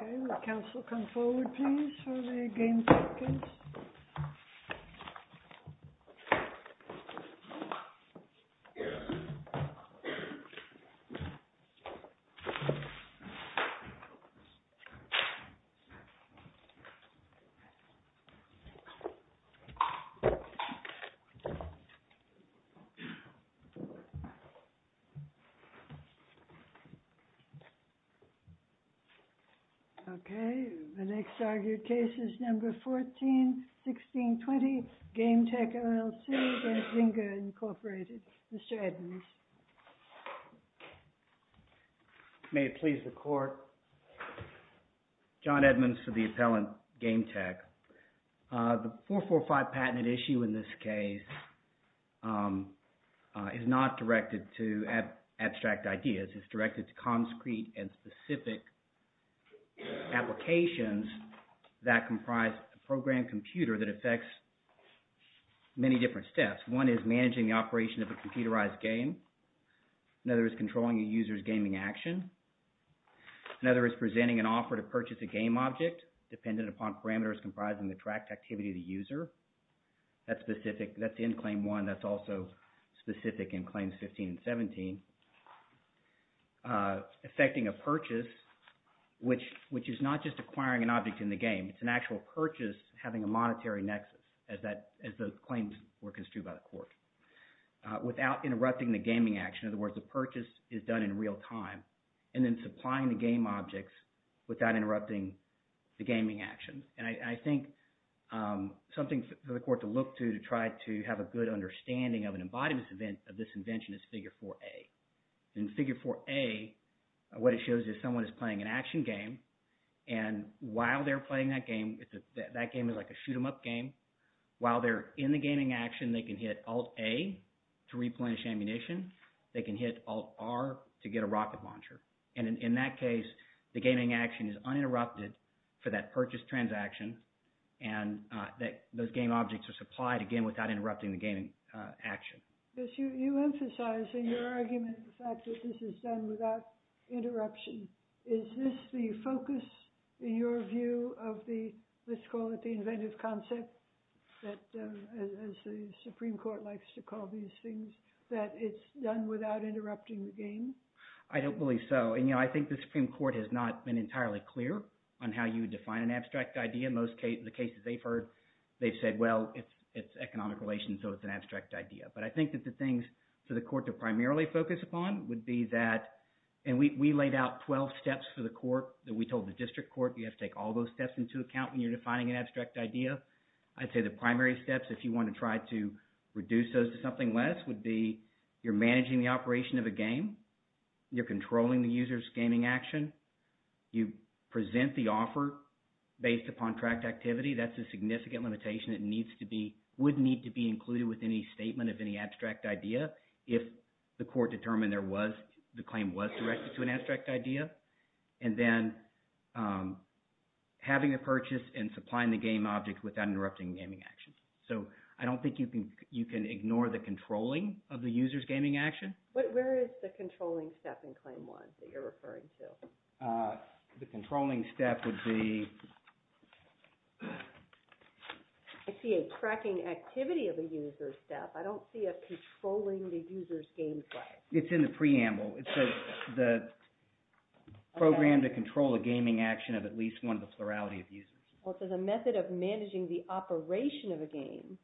Okay, will the council come forward, please, for the game check, please? Okay, the next argued case is number 14-16-20, Gametek LLC v. Zynga Inc. Mr. Edmonds. May it please the court? John Edmonds for the appellant Gametek. The 445 patent issue in this case is not directed to abstract ideas. This is directed to concrete and specific applications that comprise a program computer that affects many different steps. One is managing the operation of a computerized game. Another is controlling a user's gaming action. Another is presenting an offer to purchase a game object dependent upon parameters comprising the tracked activity of the user. That's specific – that's in Claim 1. That's also specific in Claims 15 and 17. Affecting a purchase, which is not just acquiring an object in the game. It's an actual purchase having a monetary nexus, as the claims were construed by the court, without interrupting the gaming action. In other words, the purchase is done in real time and then supplying the game objects without interrupting the gaming action. And I think something for the court to look to to try to have a good understanding of an embodiment of this invention is Figure 4a. In Figure 4a, what it shows is someone is playing an action game, and while they're playing that game, that game is like a shoot-'em-up game. While they're in the gaming action, they can hit Alt-A to replenish ammunition. They can hit Alt-R to get a rocket launcher. And in that case, the gaming action is uninterrupted for that purchase transaction, and those game objects are supplied again without interrupting the gaming action. Yes, you emphasize in your argument the fact that this is done without interruption. Is this the focus, in your view, of the – let's call it the inventive concept, as the Supreme Court likes to call these things, that it's done without interrupting the game? I don't believe so, and I think the Supreme Court has not been entirely clear on how you define an abstract idea. In most cases, the cases they've heard, they've said, well, it's economic relations, so it's an abstract idea. But I think that the things for the court to primarily focus upon would be that – and we laid out 12 steps for the court that we told the district court. You have to take all those steps into account when you're defining an abstract idea. I'd say the primary steps, if you want to try to reduce those to something less, would be you're managing the operation of a game. You're controlling the user's gaming action. You present the offer based upon tract activity. That's a significant limitation that needs to be – would need to be included with any statement of any abstract idea if the court determined there was – the claim was directed to an abstract idea. And then having a purchase and supplying the game object without interrupting gaming action. So I don't think you can ignore the controlling of the user's gaming action. Where is the controlling step in Claim 1 that you're referring to? The controlling step would be – I see a tracking activity of a user step. I don't see a controlling the user's game step. It's in the preamble. It says the program to control a gaming action of at least one of the plurality of users. Well, it says a method of managing the operation of a game,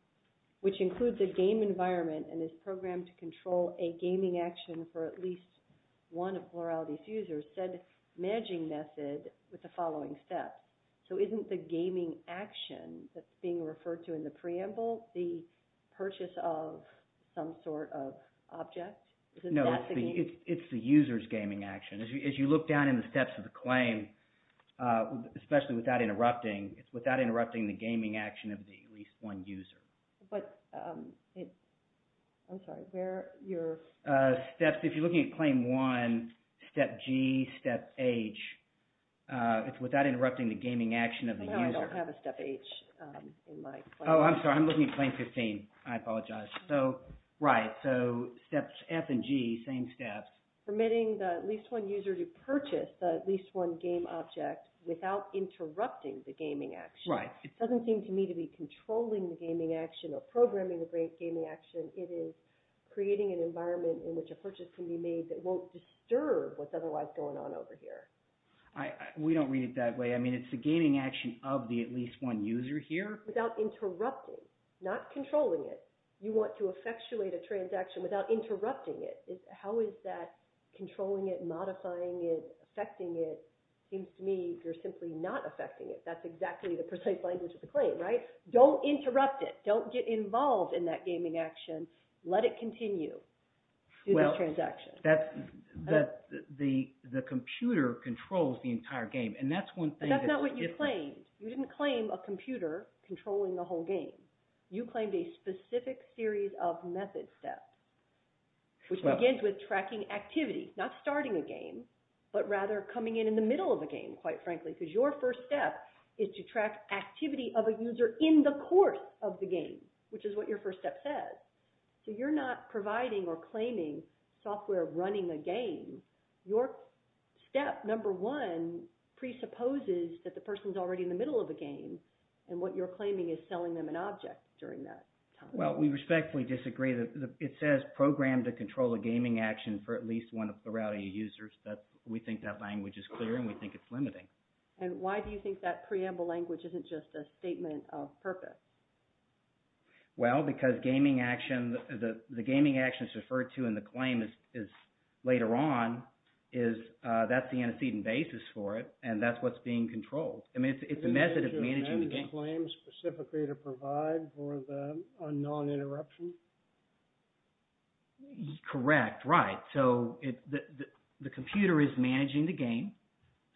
which includes a game environment and is programmed to control a gaming action for at least one of plurality of users, said managing method with the following steps. So isn't the gaming action that's being referred to in the preamble the purchase of some sort of object? No, it's the user's gaming action. As you look down in the steps of the claim, especially without interrupting, it's without interrupting the gaming action of the at least one user. But it – I'm sorry. Where are your – Steps – if you're looking at Claim 1, Step G, Step H, it's without interrupting the gaming action of the user. I don't have a Step H in my – Oh, I'm sorry. I'm looking at Claim 15. I apologize. So, right. So, Steps F and G, same steps. Permitting the at least one user to purchase the at least one game object without interrupting the gaming action. Right. It doesn't seem to me to be controlling the gaming action or programming the gaming action. It is creating an environment in which a purchase can be made that won't disturb what's otherwise going on over here. We don't read it that way. I mean, it's the gaming action of the at least one user here. Not controlling it. You want to effectuate a transaction without interrupting it. How is that controlling it, modifying it, affecting it? It seems to me you're simply not affecting it. That's exactly the precise language of the claim, right? Don't interrupt it. Don't get involved in that gaming action. Let it continue. Well, that's – the computer controls the entire game, and that's one thing that's different. You claimed – you didn't claim a computer controlling the whole game. You claimed a specific series of method steps, which begins with tracking activity. Not starting a game, but rather coming in in the middle of a game, quite frankly, because your first step is to track activity of a user in the course of the game, which is what your first step says. So you're not providing or claiming software running a game. Your step number one presupposes that the person is already in the middle of a game, and what you're claiming is selling them an object during that time. Well, we respectfully disagree. It says program to control a gaming action for at least one of the routing users. We think that language is clear, and we think it's limiting. And why do you think that preamble language isn't just a statement of purpose? Well, because gaming action – the gaming action is referred to in the claim is – later on is – that's the antecedent basis for it, and that's what's being controlled. I mean it's a method of managing the game. Do you need to amend the claim specifically to provide for the unknown interruption? Correct, right. So the computer is managing the game.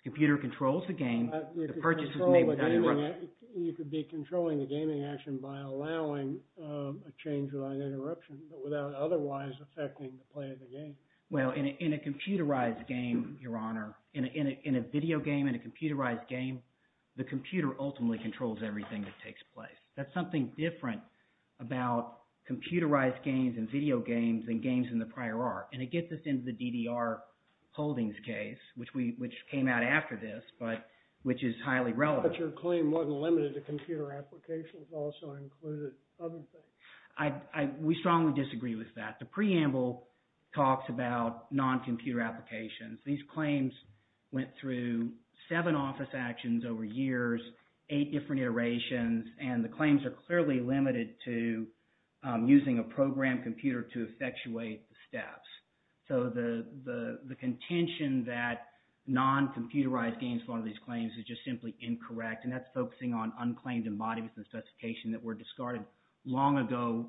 The computer controls the game. The purchase is made without interruption. So you could be controlling the gaming action by allowing a change without interruption, but without otherwise affecting the play of the game. Well, in a computerized game, Your Honor – in a video game, in a computerized game, the computer ultimately controls everything that takes place. That's something different about computerized games and video games than games in the prior art. And to get this into the DDR Holdings case, which came out after this, but – which is highly relevant. But your claim wasn't limited to computer applications. It also included other things. We strongly disagree with that. The preamble talks about non-computer applications. These claims went through seven office actions over years, eight different iterations, and the claims are clearly limited to using a programmed computer to effectuate the steps. So the contention that non-computerized games form these claims is just simply incorrect, and that's focusing on unclaimed embodiments and specifications that were discarded long ago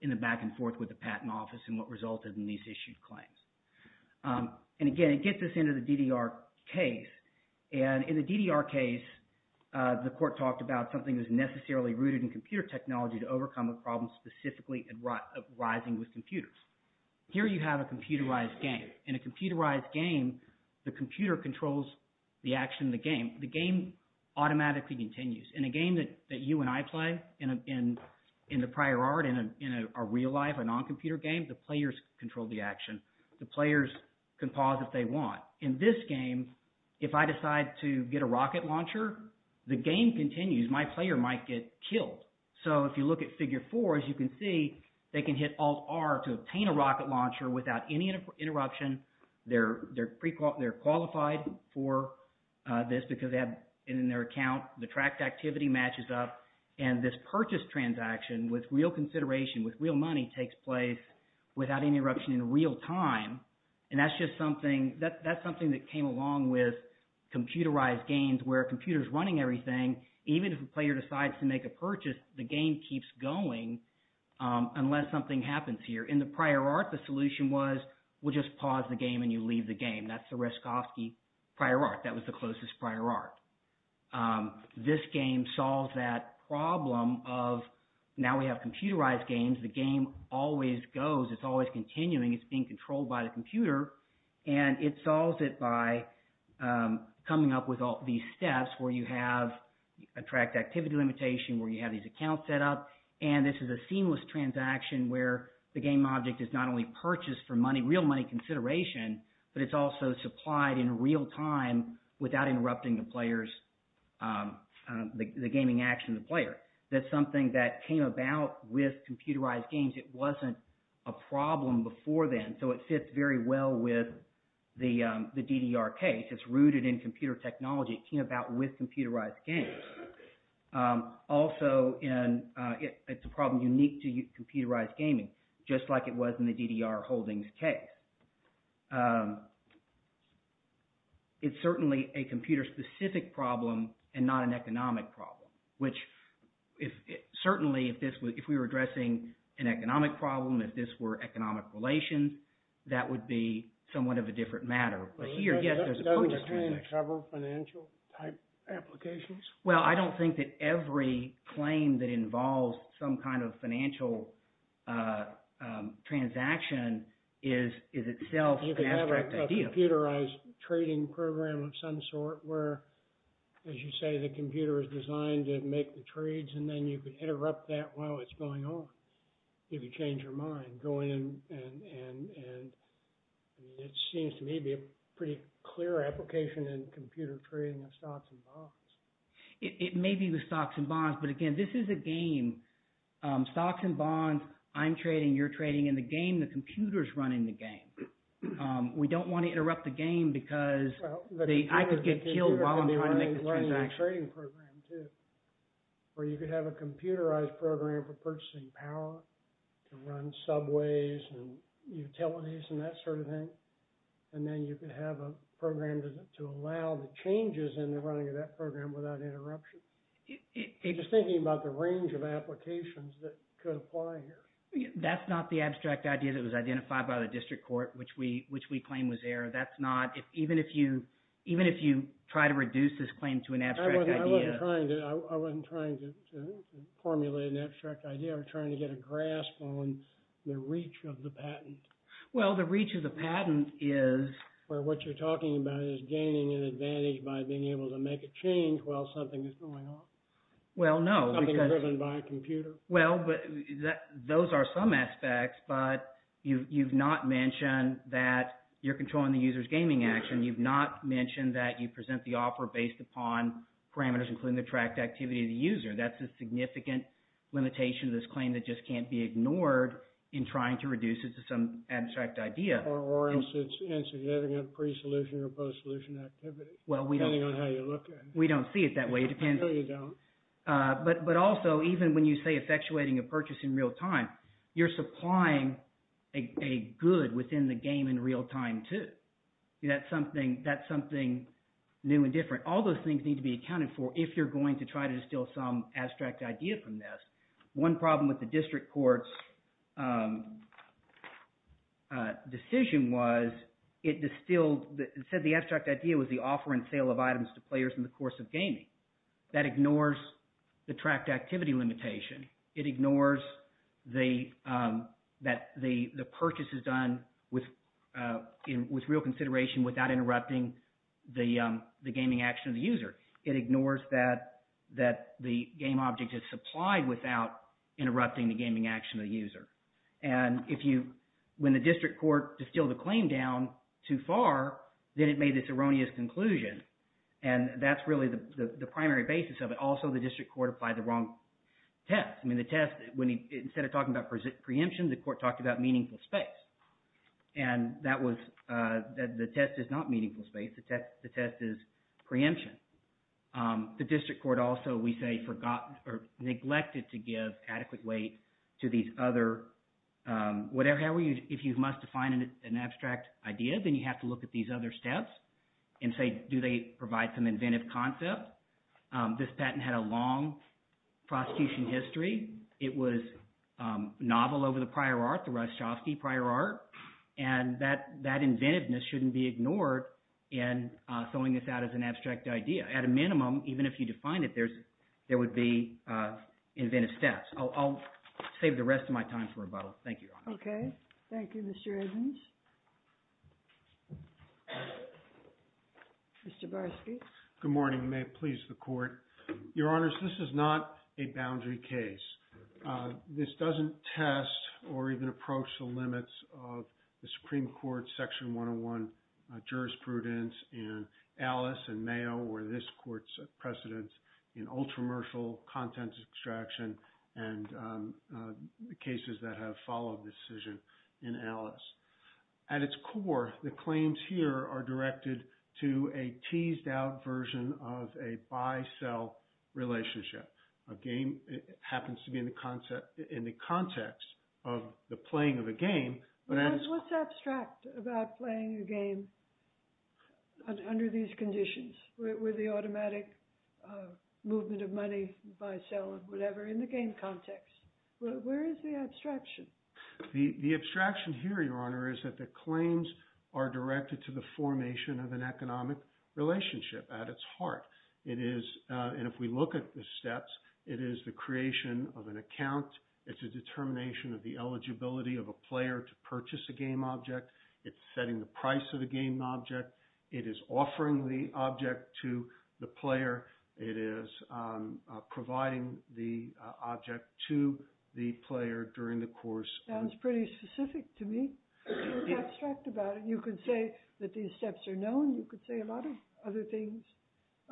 in the back-and-forth with the Patent Office and what resulted in these issued claims. And again, it gets us into the DDR case. And in the DDR case, the court talked about something that was necessarily rooted in computer technology to overcome a problem specifically arising with computers. Here you have a computerized game. In a computerized game, the computer controls the action of the game. The game automatically continues. In a game that you and I play in the prior art, in a real life, a non-computer game, the players control the action. The players can pause if they want. In this game, if I decide to get a rocket launcher, the game continues. My player might get killed. So if you look at figure four, as you can see, they can hit Alt-R to obtain a rocket launcher without any interruption. They're qualified for this because they have it in their account. The tracked activity matches up, and this purchase transaction with real consideration, with real money takes place without any interruption in real time. And that's just something – that's something that came along with computerized games where a computer is running everything. Even if a player decides to make a purchase, the game keeps going unless something happens here. In the prior art, the solution was we'll just pause the game, and you leave the game. That's the Raskowski prior art. That was the closest prior art. This game solves that problem of now we have computerized games. The game always goes. It's always continuing. It's being controlled by the computer. And it solves it by coming up with all these steps where you have a tracked activity limitation, where you have these accounts set up, and this is a seamless transaction where the game object is not only purchased for money, real money consideration, but it's also supplied in real time without interrupting the players – the gaming action of the player. That's something that came about with computerized games. It wasn't a problem before then, so it fits very well with the DDR case. It's rooted in computer technology. It came about with computerized games. Also, it's a problem unique to computerized gaming, just like it was in the DDR Holdings case. But it's certainly a computer-specific problem and not an economic problem, which certainly if we were addressing an economic problem, if this were economic relations, that would be somewhat of a different matter. Does the claim cover financial-type applications? Well, I don't think that every claim that involves some kind of financial transaction is itself an abstract idea. Is there a computerized trading program of some sort where, as you say, the computer is designed to make the trades, and then you can interrupt that while it's going on? If you change your mind, go in and – it seems to me to be a pretty clear application in computer trading of stocks and bonds. It may be the stocks and bonds, but again, this is a game. Stocks and bonds, I'm trading, you're trading. In the game, the computer is running the game. We don't want to interrupt the game because I could get killed while I'm trying to make the transaction. Well, the computer could be running the trading program too, where you could have a computerized program for purchasing power to run subways and utilities and that sort of thing. And then you could have a program to allow the changes in the running of that program without interruption. I'm just thinking about the range of applications that could apply here. That's not the abstract idea that was identified by the district court, which we claim was there. That's not – even if you try to reduce this claim to an abstract idea… I wasn't trying to formulate an abstract idea. I was trying to get a grasp on the reach of the patent. Well, the reach of the patent is… Where what you're talking about is gaining an advantage by being able to make a change while something is going on. Well, no. Something driven by a computer. Well, those are some aspects, but you've not mentioned that you're controlling the user's gaming action. You've not mentioned that you present the offer based upon parameters, including the tracked activity of the user. That's a significant limitation of this claim that just can't be ignored in trying to reduce it to some abstract idea. Or else it's insignificant pre-solution or post-solution activity, depending on how you look at it. We don't see it that way. It depends… No, you don't. But also, even when you say effectuating a purchase in real time, you're supplying a good within the game in real time too. That's something new and different. All those things need to be accounted for if you're going to try to distill some abstract idea from this. One problem with the district court's decision was it distilled – it said the abstract idea was the offer and sale of items to players in the course of gaming. That ignores the tracked activity limitation. It ignores that the purchase is done with real consideration without interrupting the gaming action of the user. It ignores that the game object is supplied without interrupting the gaming action of the user. And if you – when the district court distilled the claim down too far, then it made this erroneous conclusion. And that's really the primary basis of it. Also, the district court applied the wrong test. I mean the test – instead of talking about preemption, the court talked about meaningful space, and that was – the test is not meaningful space. The test is preemption. The district court also, we say, neglected to give adequate weight to these other – however, if you must define an abstract idea, then you have to look at these other steps and say, do they provide some inventive concept? This patent had a long prosecution history. It was novel over the prior art, the Ryszkowski prior art, and that inventiveness shouldn't be ignored in throwing this out as an abstract idea. At a minimum, even if you define it, there would be inventive steps. I'll save the rest of my time for rebuttal. Thank you, Your Honor. Okay. Thank you, Mr. Edmonds. Mr. Barsky. Good morning. May it please the court. Your Honors, this is not a boundary case. This doesn't test or even approach the limits of the Supreme Court's Section 101 jurisprudence in Alice and Mayo or this court's precedence in ultra-mercial contents extraction and the cases that have followed this decision in Alice. At its core, the claims here are directed to a teased out version of a buy-sell relationship. A game happens to be in the context of the playing of a game. What's abstract about playing a game under these conditions with the automatic movement of money, buy-sell, whatever, in the game context? Where is the abstraction? The abstraction here, Your Honor, is that the claims are directed to the formation of an economic relationship at its heart. And if we look at the steps, it is the creation of an account. It's a determination of the eligibility of a player to purchase a game object. It's setting the price of the game object. It is offering the object to the player. It is providing the object to the player during the course. Sounds pretty specific to me. It's abstract about it. You could say that these steps are known. You could say a lot of other things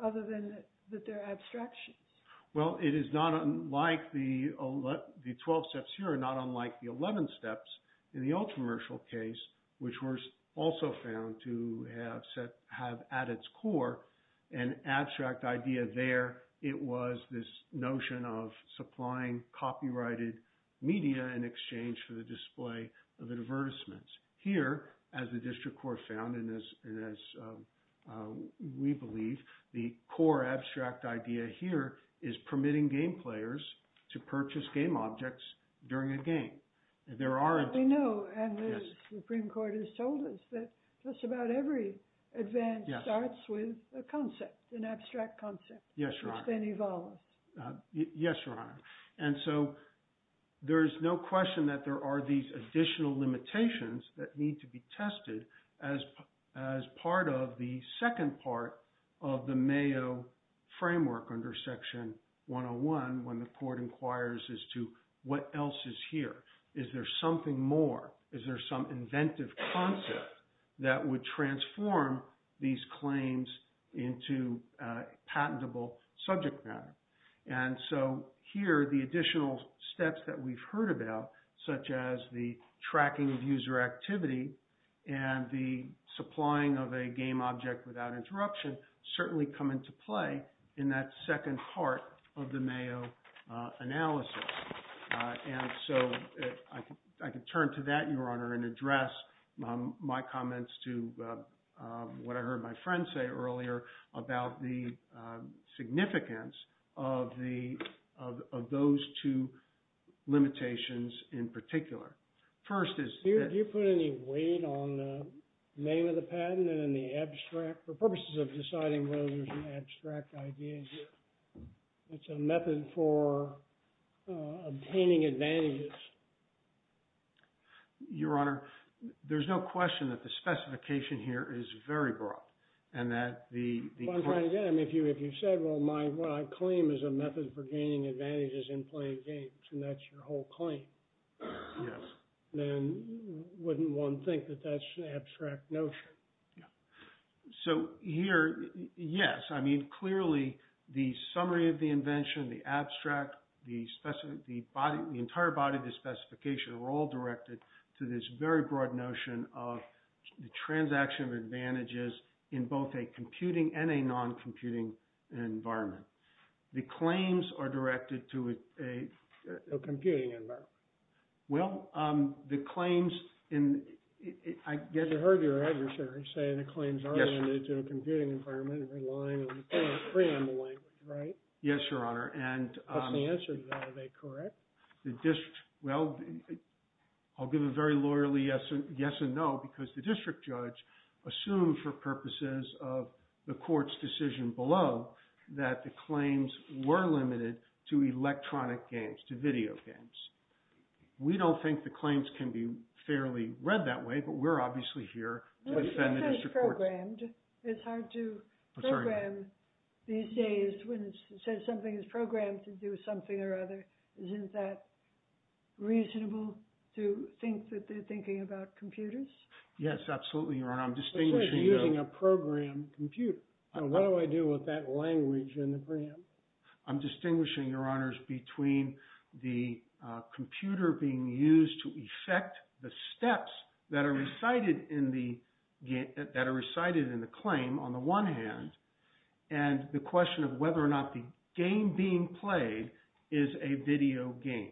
other than that they're abstractions. Well, it is not unlike the 12 steps here are not unlike the 11 steps in the Ultramershal case, which were also found to have at its core an abstract idea there. It was this notion of supplying copyrighted media in exchange for the display of advertisements. Here, as the district court found, and as we believe, the core abstract idea here is permitting game players to purchase game objects during a game. They know, and the Supreme Court has told us that just about every advance starts with a concept, an abstract concept, which then evolves. Yes, Your Honor. And so there's no question that there are these additional limitations that need to be tested as part of the second part of the Mayo framework under Section 101 when the court inquires as to what else is here. Is there something more? Is there some inventive concept that would transform these claims into patentable subject matter? And so here, the additional steps that we've heard about, such as the tracking of user activity and the supplying of a game object without interruption, certainly come into play in that second part of the Mayo analysis. And so I can turn to that, Your Honor, and address my comments to what I heard my friend say earlier about the significance of those two limitations in particular. Do you put any weight on the name of the patent and in the abstract, for purposes of deciding whether there's an abstract idea here? It's a method for obtaining advantages. Your Honor, there's no question that the specification here is very broad and that the… Right again, if you said, well, my claim is a method for gaining advantages in playing games, and that's your whole claim. Yes. Then wouldn't one think that that's an abstract notion? So here, yes. I mean, clearly, the summary of the invention, the abstract, the entire body of the specification are all directed to this very broad notion of the transaction of advantages in both a computing and a non-computing environment. The claims are directed to a… A computing environment. Well, the claims in… I guess I heard your adversary say the claims are directed to a computing environment relying on the preamble language, right? Yes, Your Honor, and… What's the answer to that? Are they correct? Well, I'll give a very lawyerly yes and no, because the district judge assumed for purposes of the court's decision below that the claims were limited to electronic games, to video games. We don't think the claims can be fairly read that way, but we're obviously here to defend the district court's… It's hard to program these days when it says something is programmed to do something or other. Isn't that reasonable to think that they're thinking about computers? Yes, absolutely, Your Honor. I'm distinguishing… It's like using a programmed computer. What do I do with that language in the preamble? I'm distinguishing, Your Honors, between the computer being used to effect the steps that are recited in the claim on the one hand, and the question of whether or not the game being played is a video game.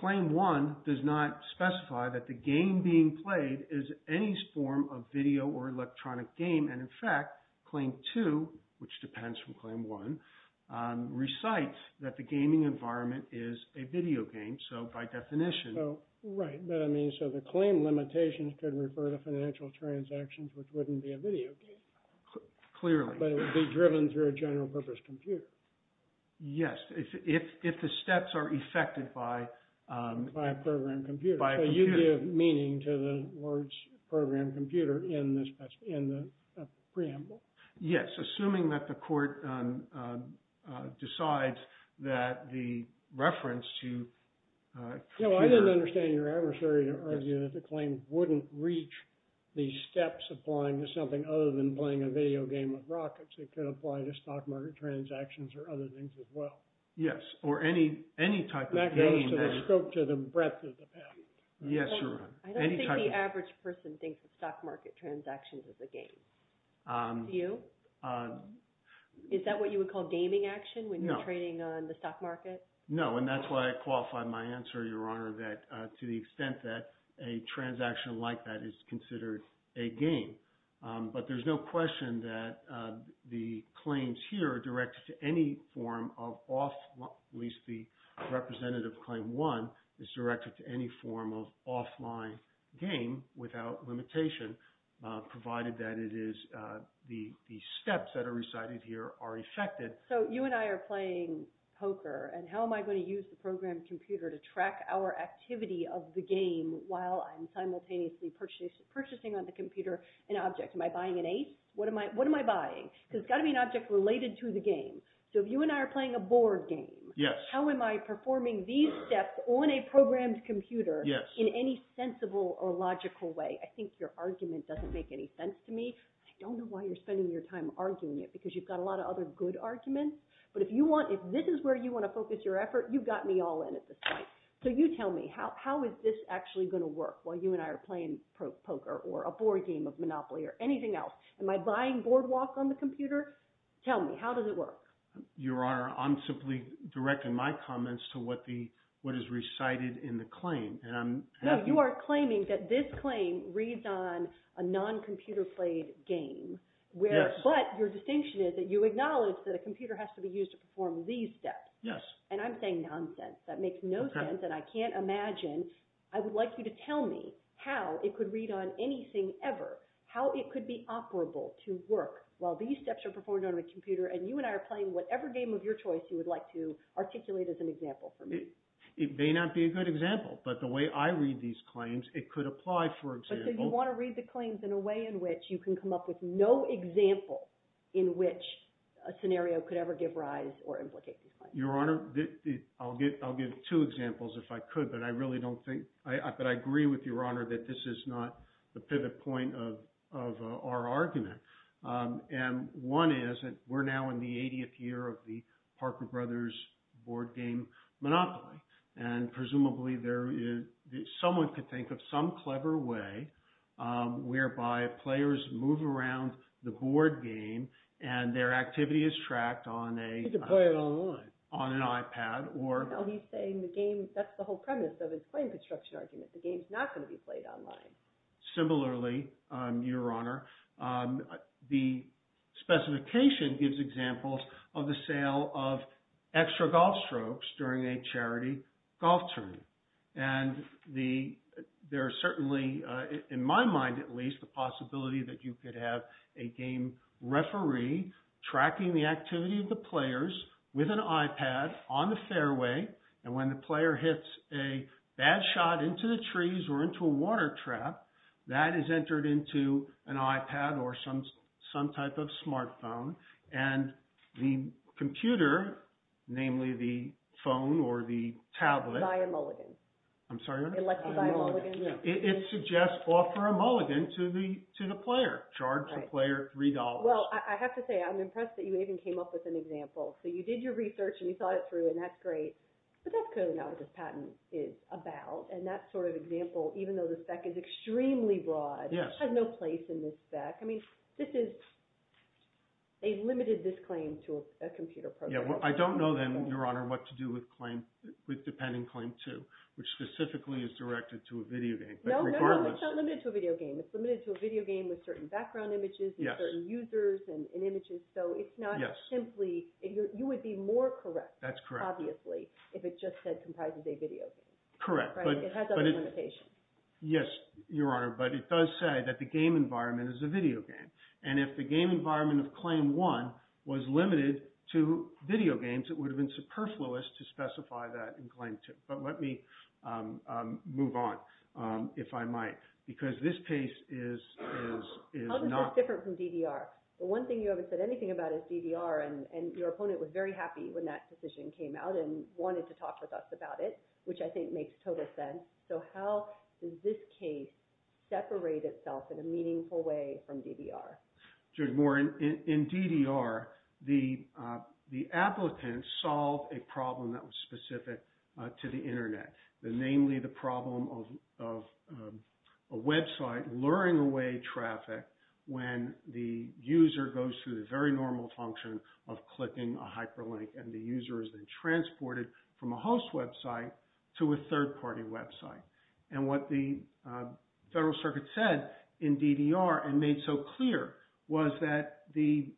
Claim 1 does not specify that the game being played is any form of video or electronic game, and in fact, Claim 2, which depends from Claim 1, recites that the gaming environment is a video game, so by definition… Right, but I mean, so the claim limitations could refer to financial transactions, which wouldn't be a video game. Clearly. But it would be driven through a general purpose computer. Yes, if the steps are effected by… By a programmed computer. By a computer. So you give meaning to the words programmed computer in the preamble. Yes, assuming that the court decides that the reference to computer… Yes, or any type of game… That goes to the breadth of the patent. Yes, Your Honor. I don't think the average person thinks of stock market transactions as a game. Do you? Is that what you would call gaming action when you're trading on the stock market? No, and that's why I qualify my answer, Your Honor, to the extent that a transaction like that is considered a game. But there's no question that the claims here are directed to any form of off… At least the representative of Claim 1 is directed to any form of offline game without limitation, provided that it is… The steps that are recited here are effected. So you and I are playing poker, and how am I going to use the programmed computer to track our activity of the game while I'm simultaneously purchasing on the computer an object? Am I buying an ace? What am I buying? Because it's got to be an object related to the game. So if you and I are playing a board game, how am I performing these steps on a programmed computer in any sensible or logical way? I think your argument doesn't make any sense to me. I don't know why you're spending your time arguing it because you've got a lot of other good arguments. But if you want – if this is where you want to focus your effort, you've got me all in at this point. So you tell me. How is this actually going to work while you and I are playing poker or a board game of Monopoly or anything else? Am I buying boardwalk on the computer? Tell me. How does it work? Your Honor, I'm simply directing my comments to what is recited in the claim, and I'm… No, you are claiming that this claim reads on a non-computer-played game. Yes. But your distinction is that you acknowledge that a computer has to be used to perform these steps. Yes. And I'm saying nonsense. That makes no sense, and I can't imagine. I would like you to tell me how it could read on anything ever, how it could be operable to work while these steps are performed on a computer, and you and I are playing whatever game of your choice you would like to articulate as an example for me. It may not be a good example, but the way I read these claims, it could apply, for example… So you want to read the claims in a way in which you can come up with no example in which a scenario could ever give rise or implicate these claims. Your Honor, I'll give two examples if I could, but I really don't think – but I agree with your Honor that this is not the pivot point of our argument. And one is that we're now in the 80th year of the Parker Brothers board game monopoly. And presumably there is – someone could think of some clever way whereby players move around the board game and their activity is tracked on a… You could play it online. On an iPad or… No, he's saying the game – that's the whole premise of his claim construction argument. The game's not going to be played online. Similarly, your Honor, the specification gives examples of the sale of extra golf strokes during a charity golf tournament. And there are certainly, in my mind at least, the possibility that you could have a game referee tracking the activity of the players with an iPad on the fairway. And when the player hits a bad shot into the trees or into a water trap, that is entered into an iPad or some type of smartphone. And the computer, namely the phone or the tablet… Buy a mulligan. I'm sorry, Your Honor? Elect to buy a mulligan. It suggests offer a mulligan to the player, charge the player $3. Well, I have to say I'm impressed that you even came up with an example. So you did your research and you thought it through, and that's great. But that's clearly not what this patent is about. And that sort of example, even though the spec is extremely broad, has no place in this spec. I mean, this is – they limited this claim to a computer program. Yeah, well, I don't know then, Your Honor, what to do with claim – with depending claim 2, which specifically is directed to a video game. No, no, no. It's not limited to a video game. It's limited to a video game with certain background images and certain users and images. So it's not simply – you would be more correct, obviously, if it just said comprises a video game. Correct. Right? It has other limitations. Yes, Your Honor, but it does say that the game environment is a video game. And if the game environment of claim 1 was limited to video games, it would have been superfluous to specify that in claim 2. But let me move on, if I might, because this case is not – How is this different from DDR? The one thing you haven't said anything about is DDR, and your opponent was very happy when that decision came out and wanted to talk with us about it, which I think makes total sense. So how does this case separate itself in a meaningful way from DDR? Judge Moore, in DDR, the applicant solved a problem that was specific to the internet, namely the problem of a website luring away traffic when the user goes through the very normal function of clicking a hyperlink and the user is then transported from a host website to a third-party website. And what the Federal Circuit said in DDR and made so clear was that the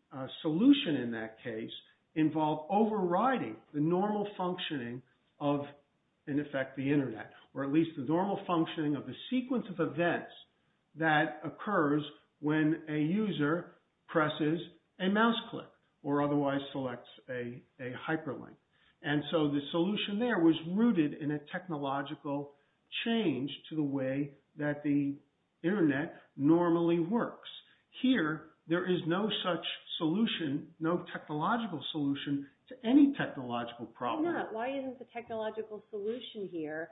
solution in that case involved overriding the normal functioning of, in effect, the internet, or at least the normal functioning of the sequence of events that occurs when a user presses a mouse click or otherwise selects a hyperlink. And so the solution there was rooted in a technological change to the way that the internet normally works. Here, there is no such solution, no technological solution, to any technological problem. Why not? Why isn't the technological solution here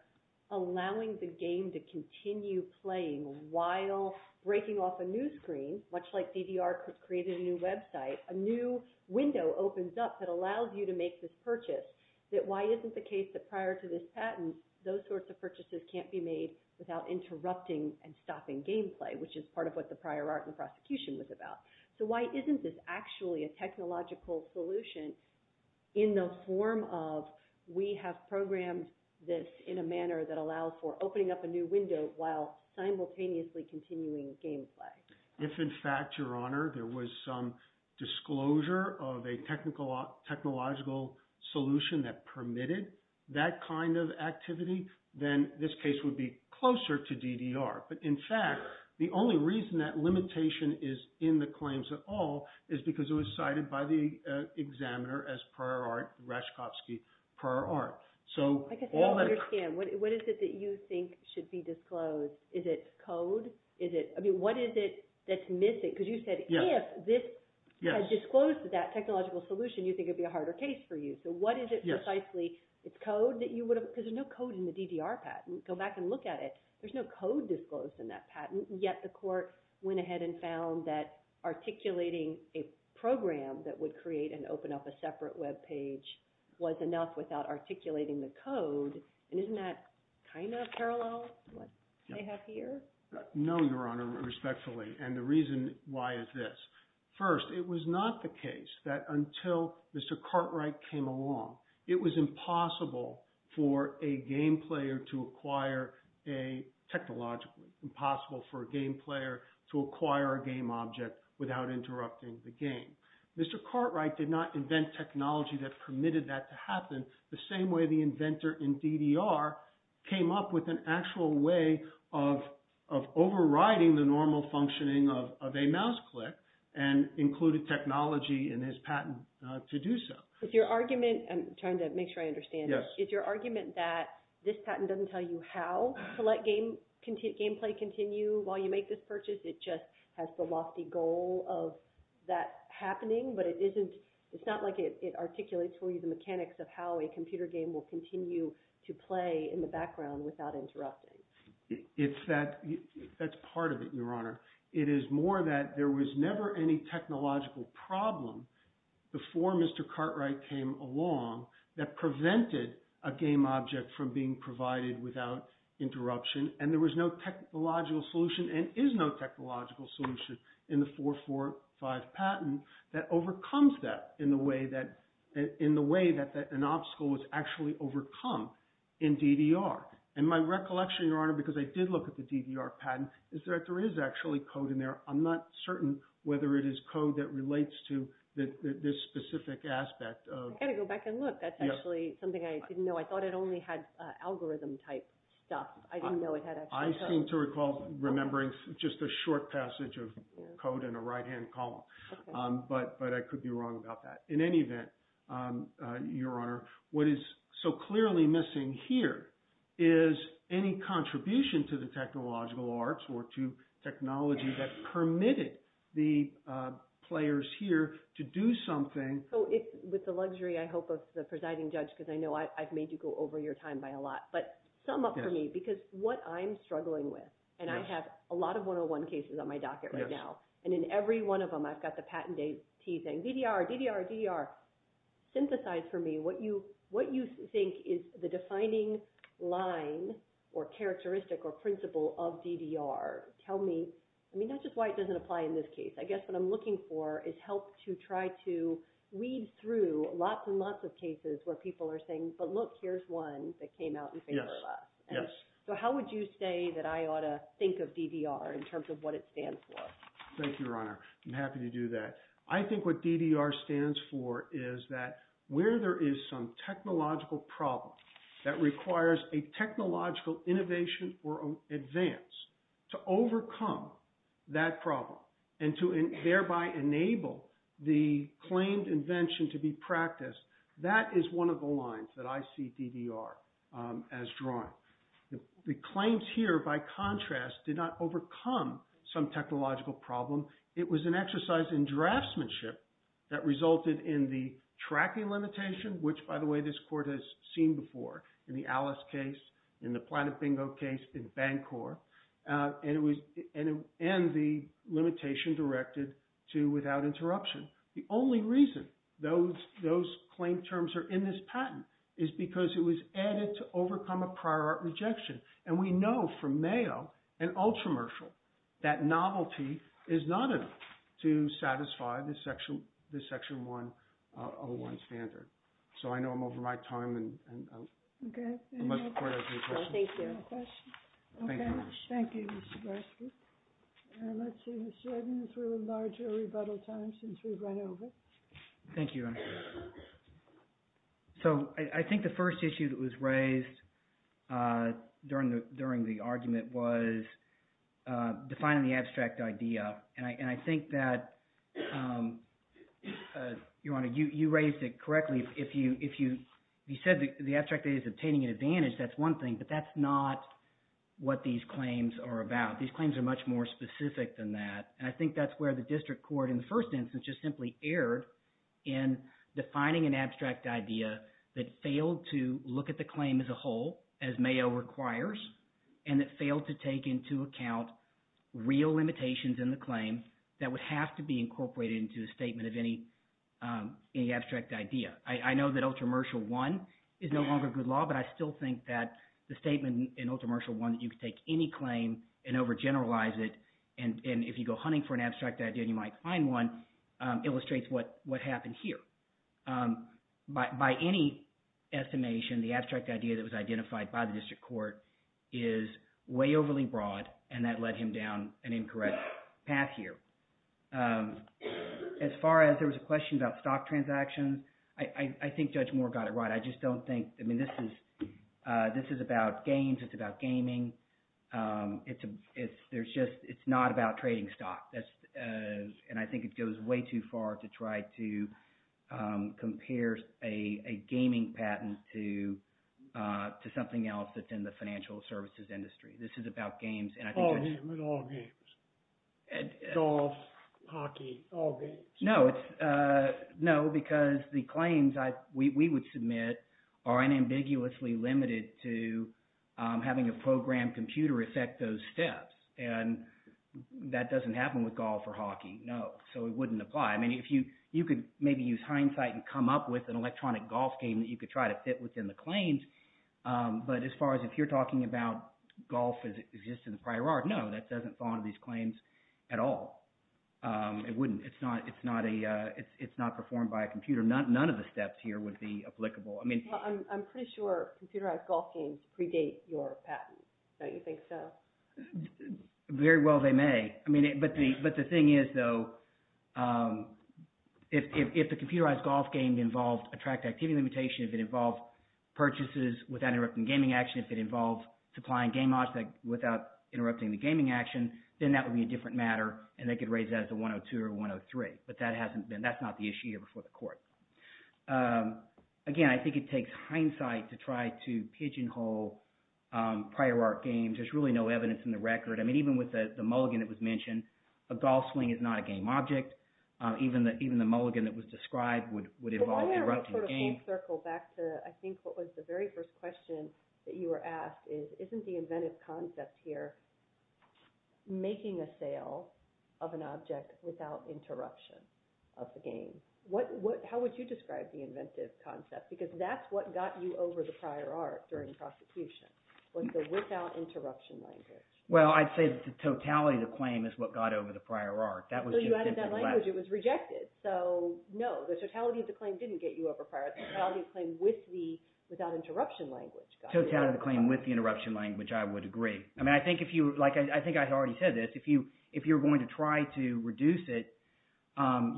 allowing the game to continue playing while breaking off a new screen, much like DDR created a new website, a new window opens up that allows you to make this purchase? Why isn't the case that prior to this patent, those sorts of purchases can't be made without interrupting and stopping gameplay, which is part of what the prior art in the prosecution was about? So why isn't this actually a technological solution in the form of we have programmed this in a manner that allows for opening up a new window while simultaneously continuing gameplay? If in fact, Your Honor, there was some disclosure of a technological solution that permitted that kind of activity, then this case would be closer to DDR. But in fact, the only reason that limitation is in the claims at all is because it was cited by the examiner as prior art, Raczkowski prior art. I guess I don't understand. What is it that you think should be disclosed? Is it code? What is it that's missing? Because you said if this had disclosed that technological solution, you think it would be a harder case for you. So what is it precisely? It's code? Because there's no code in the DDR patent. Go back and look at it. There's no code disclosed in that patent, yet the court went ahead and found that articulating a program that would create and open up a separate webpage was enough without articulating the code. And isn't that kind of parallel to what they have here? No, Your Honor, respectfully. And the reason why is this. First, it was not the case that until Mr. Cartwright came along, it was impossible for a game player to acquire a technological, impossible for a game player to acquire a game object without interrupting the game. Mr. Cartwright did not invent technology that permitted that to happen the same way the inventor in DDR came up with an actual way of overriding the normal functioning of a mouse click and included technology in his patent to do so. Is your argument – I'm trying to make sure I understand. Is your argument that this patent doesn't tell you how to let gameplay continue while you make this purchase? It just has the lofty goal of that happening, but it isn't – it's not like it articulates for you the mechanics of how a computer game will continue to play in the background without interrupting. That's part of it, Your Honor. It is more that there was never any technological problem before Mr. Cartwright came along that prevented a game object from being provided without interruption and there was no technological solution and is no technological solution in the 445 patent that overcomes that in the way that an obstacle was actually overcome in DDR. And my recollection, Your Honor, because I did look at the DDR patent is that there is actually code in there. I'm not certain whether it is code that relates to this specific aspect. I've got to go back and look. That's actually something I didn't know. I thought it only had algorithm type stuff. I didn't know it had actually code. I seem to recall remembering just a short passage of code in a right-hand column, but I could be wrong about that. In any event, Your Honor, what is so clearly missing here is any contribution to the technological arts or to technology that permitted the players here to do something. So with the luxury, I hope, of the presiding judge, because I know I've made you go over your time by a lot, but sum up for me, because what I'm struggling with, and I have a lot of 101 cases on my docket right now, and in every one of them I've got the patentee saying DDR, DDR, DDR. Synthesize for me what you think is the defining line or characteristic or principle of DDR. Tell me – I mean, that's just why it doesn't apply in this case. I guess what I'm looking for is help to try to weed through lots and lots of cases where people are saying, but look, here's one that came out in favor of us. Yes, yes. So how would you say that I ought to think of DDR in terms of what it stands for? Thank you, Your Honor. I'm happy to do that. I think what DDR stands for is that where there is some technological problem that requires a technological innovation or advance to overcome that problem and to thereby enable the claimed invention to be practiced, that is one of the lines that I see DDR as drawing. The claims here, by contrast, did not overcome some technological problem. It was an exercise in draftsmanship that resulted in the tracking limitation, which, by the way, this court has seen before in the Alice case, in the Planet Bingo case, in Bancorp, and the limitation directed to without interruption. The only reason those claim terms are in this patent is because it was added to overcome a prior art rejection. And we know from Mayo and Ultramershal that novelty is not enough to satisfy the Section 101 standard. So I know I'm over my time. Okay. Thank you. Thank you, Your Honor. Thank you, Mr. Barsky. And let's see, Mr. Edmonds, we'll enlarge our rebuttal time since we've run over. So I think the first issue that was raised during the argument was defining the abstract idea. And I think that, Your Honor, you raised it correctly. If you said the abstract idea is obtaining an advantage, that's one thing, but that's not what these claims are about. These claims are much more specific than that, and I think that's where the district court in the first instance just simply erred in defining an abstract idea that failed to look at the claim as a whole, as Mayo requires, and that failed to take into account real limitations in the claim that would have to be incorporated into a statement of any abstract idea. I know that Ultramershal 1 is no longer good law, but I still think that the statement in Ultramershal 1 that you could take any claim and overgeneralize it, and if you go hunting for an abstract idea and you might find one, illustrates what happened here. By any estimation, the abstract idea that was identified by the district court is way overly broad, and that led him down an incorrect path here. As far as there was a question about stock transactions, I think Judge Moore got it right. I just don't think – I mean this is about games. It's about gaming. It's just – it's not about trading stock, and I think it goes way too far to try to compare a gaming patent to something else that's in the financial services industry. It's all games. Golf, hockey, all games. No, it's – no, because the claims we would submit are unambiguously limited to having a programmed computer effect those steps, and that doesn't happen with golf or hockey, no. So it wouldn't apply. I mean if you – you could maybe use hindsight and come up with an electronic golf game that you could try to fit within the claims. But as far as if you're talking about golf as it exists in the prior art, no, that doesn't fall under these claims at all. It wouldn't. It's not a – it's not performed by a computer. None of the steps here would be applicable. I mean… I'm pretty sure computerized golf games predate your patent. Don't you think so? Very well they may. I mean – but the thing is, though, if the computerized golf game involved attract activity limitation, if it involved purchases without interrupting gaming action, if it involved supplying game odds without interrupting the gaming action…… then that would be a different matter, and they could raise that as a 102 or 103, but that hasn't been – that's not the issue here before the court. Again, I think it takes hindsight to try to pigeonhole prior art games. There's really no evidence in the record. I mean even with the mulligan that was mentioned, a golf swing is not a game object. Even the mulligan that was described would involve interrupting the game. I think what was the very first question that you were asked is, isn't the inventive concept here making a sale of an object without interruption of the game? How would you describe the inventive concept? Because that's what got you over the prior art during prosecution was the without interruption language. Well, I'd say the totality of the claim is what got over the prior art. So you added that language. It was rejected. So no, the totality of the claim didn't get you over prior art. The totality of the claim with the without interruption language got you over the prior art. Totality of the claim with the interruption language, I would agree. I mean I think if you – like I think I already said this. If you're going to try to reduce it,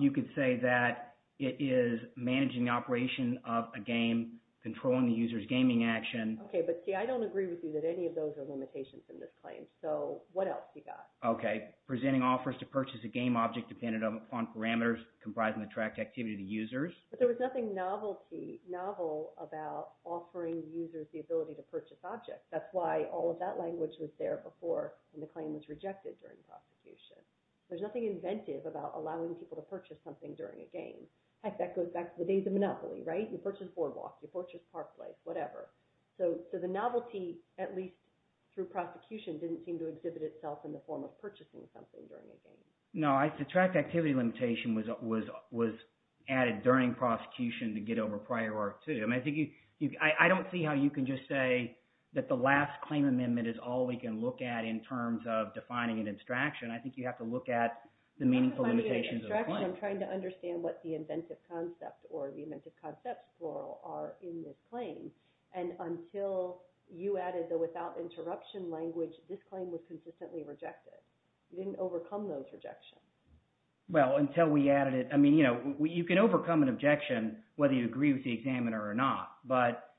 you could say that it is managing the operation of a game, controlling the user's gaming action. Okay, but see I don't agree with you that any of those are limitations in this claim. So what else you got? Okay, presenting offers to purchase a game object dependent on parameters comprising the tracked activity to users. But there was nothing novelty, novel about offering users the ability to purchase objects. That's why all of that language was there before, and the claim was rejected during prosecution. There's nothing inventive about allowing people to purchase something during a game. Heck, that goes back to the days of Monopoly. You purchase BoardWalk, you purchase Park Place, whatever. So the novelty, at least through prosecution, didn't seem to exhibit itself in the form of purchasing something during a game. No, the tracked activity limitation was added during prosecution to get over prior art too. I mean I think you – I don't see how you can just say that the last claim amendment is all we can look at in terms of defining an abstraction. I think you have to look at the meaningful limitations of the claim. But I'm trying to understand what the inventive concept or the inventive concepts, plural, are in this claim. And until you added the without interruption language, this claim was consistently rejected. You didn't overcome those rejections. Well, until we added it – I mean you can overcome an objection whether you agree with the examiner or not. But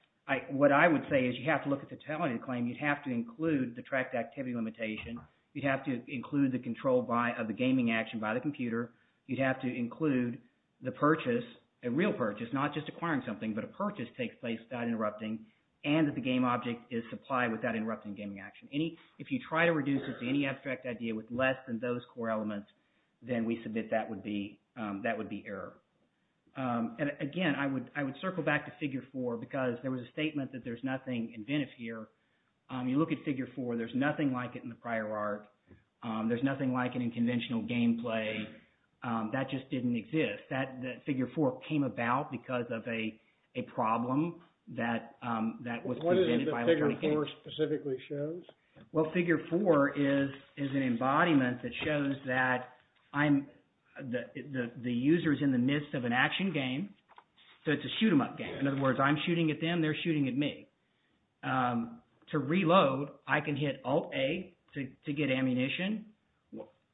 what I would say is you have to look at the totality of the claim. You'd have to include the tracked activity limitation. You'd have to include the control by – of the gaming action by the computer. You'd have to include the purchase, a real purchase, not just acquiring something, but a purchase takes place without interrupting, and that the game object is supplied without interrupting gaming action. If you try to reduce it to any abstract idea with less than those core elements, then we submit that would be error. And again, I would circle back to Figure 4 because there was a statement that there's nothing inventive here. You look at Figure 4, there's nothing like it in the prior art. There's nothing like it in conventional gameplay. That just didn't exist. That – Figure 4 came about because of a problem that was presented by electronic games. What is it that Figure 4 specifically shows? Well, Figure 4 is an embodiment that shows that I'm – the user is in the midst of an action game, so it's a shoot-em-up game. In other words, I'm shooting at them. They're shooting at me. To reload, I can hit Alt-A to get ammunition.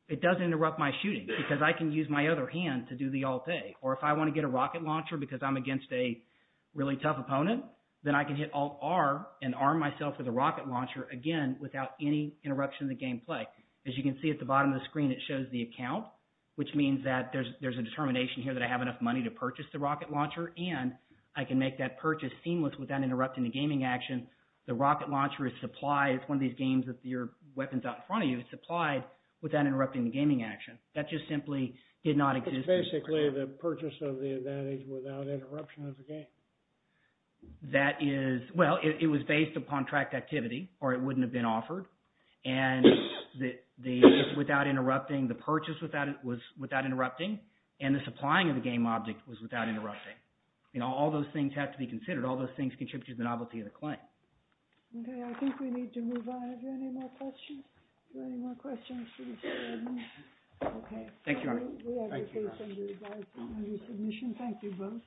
It doesn't interrupt my shooting because I can use my other hand to do the Alt-A. Or if I want to get a rocket launcher because I'm against a really tough opponent, then I can hit Alt-R and arm myself with a rocket launcher again without any interruption in the gameplay. As you can see at the bottom of the screen, it shows the account, which means that there's a determination here that I have enough money to purchase the rocket launcher. And I can make that purchase seamless without interrupting the gaming action. The rocket launcher is supplied – it's one of these games with your weapons out in front of you. It's supplied without interrupting the gaming action. That just simply did not exist. So it's basically the purchase of the advantage without interruption of the game. That is – well, it was based upon track activity, or it wouldn't have been offered. And the – it's without interrupting. The purchase was without interrupting. And the supplying of the game object was without interrupting. All those things have to be considered. All those things contribute to the novelty of the claim. Okay, I think we need to move on. Are there any more questions? Are there any more questions? Okay. Thank you, Arnie. Thank you, guys. We appreciate the advice and your submission. Thank you both.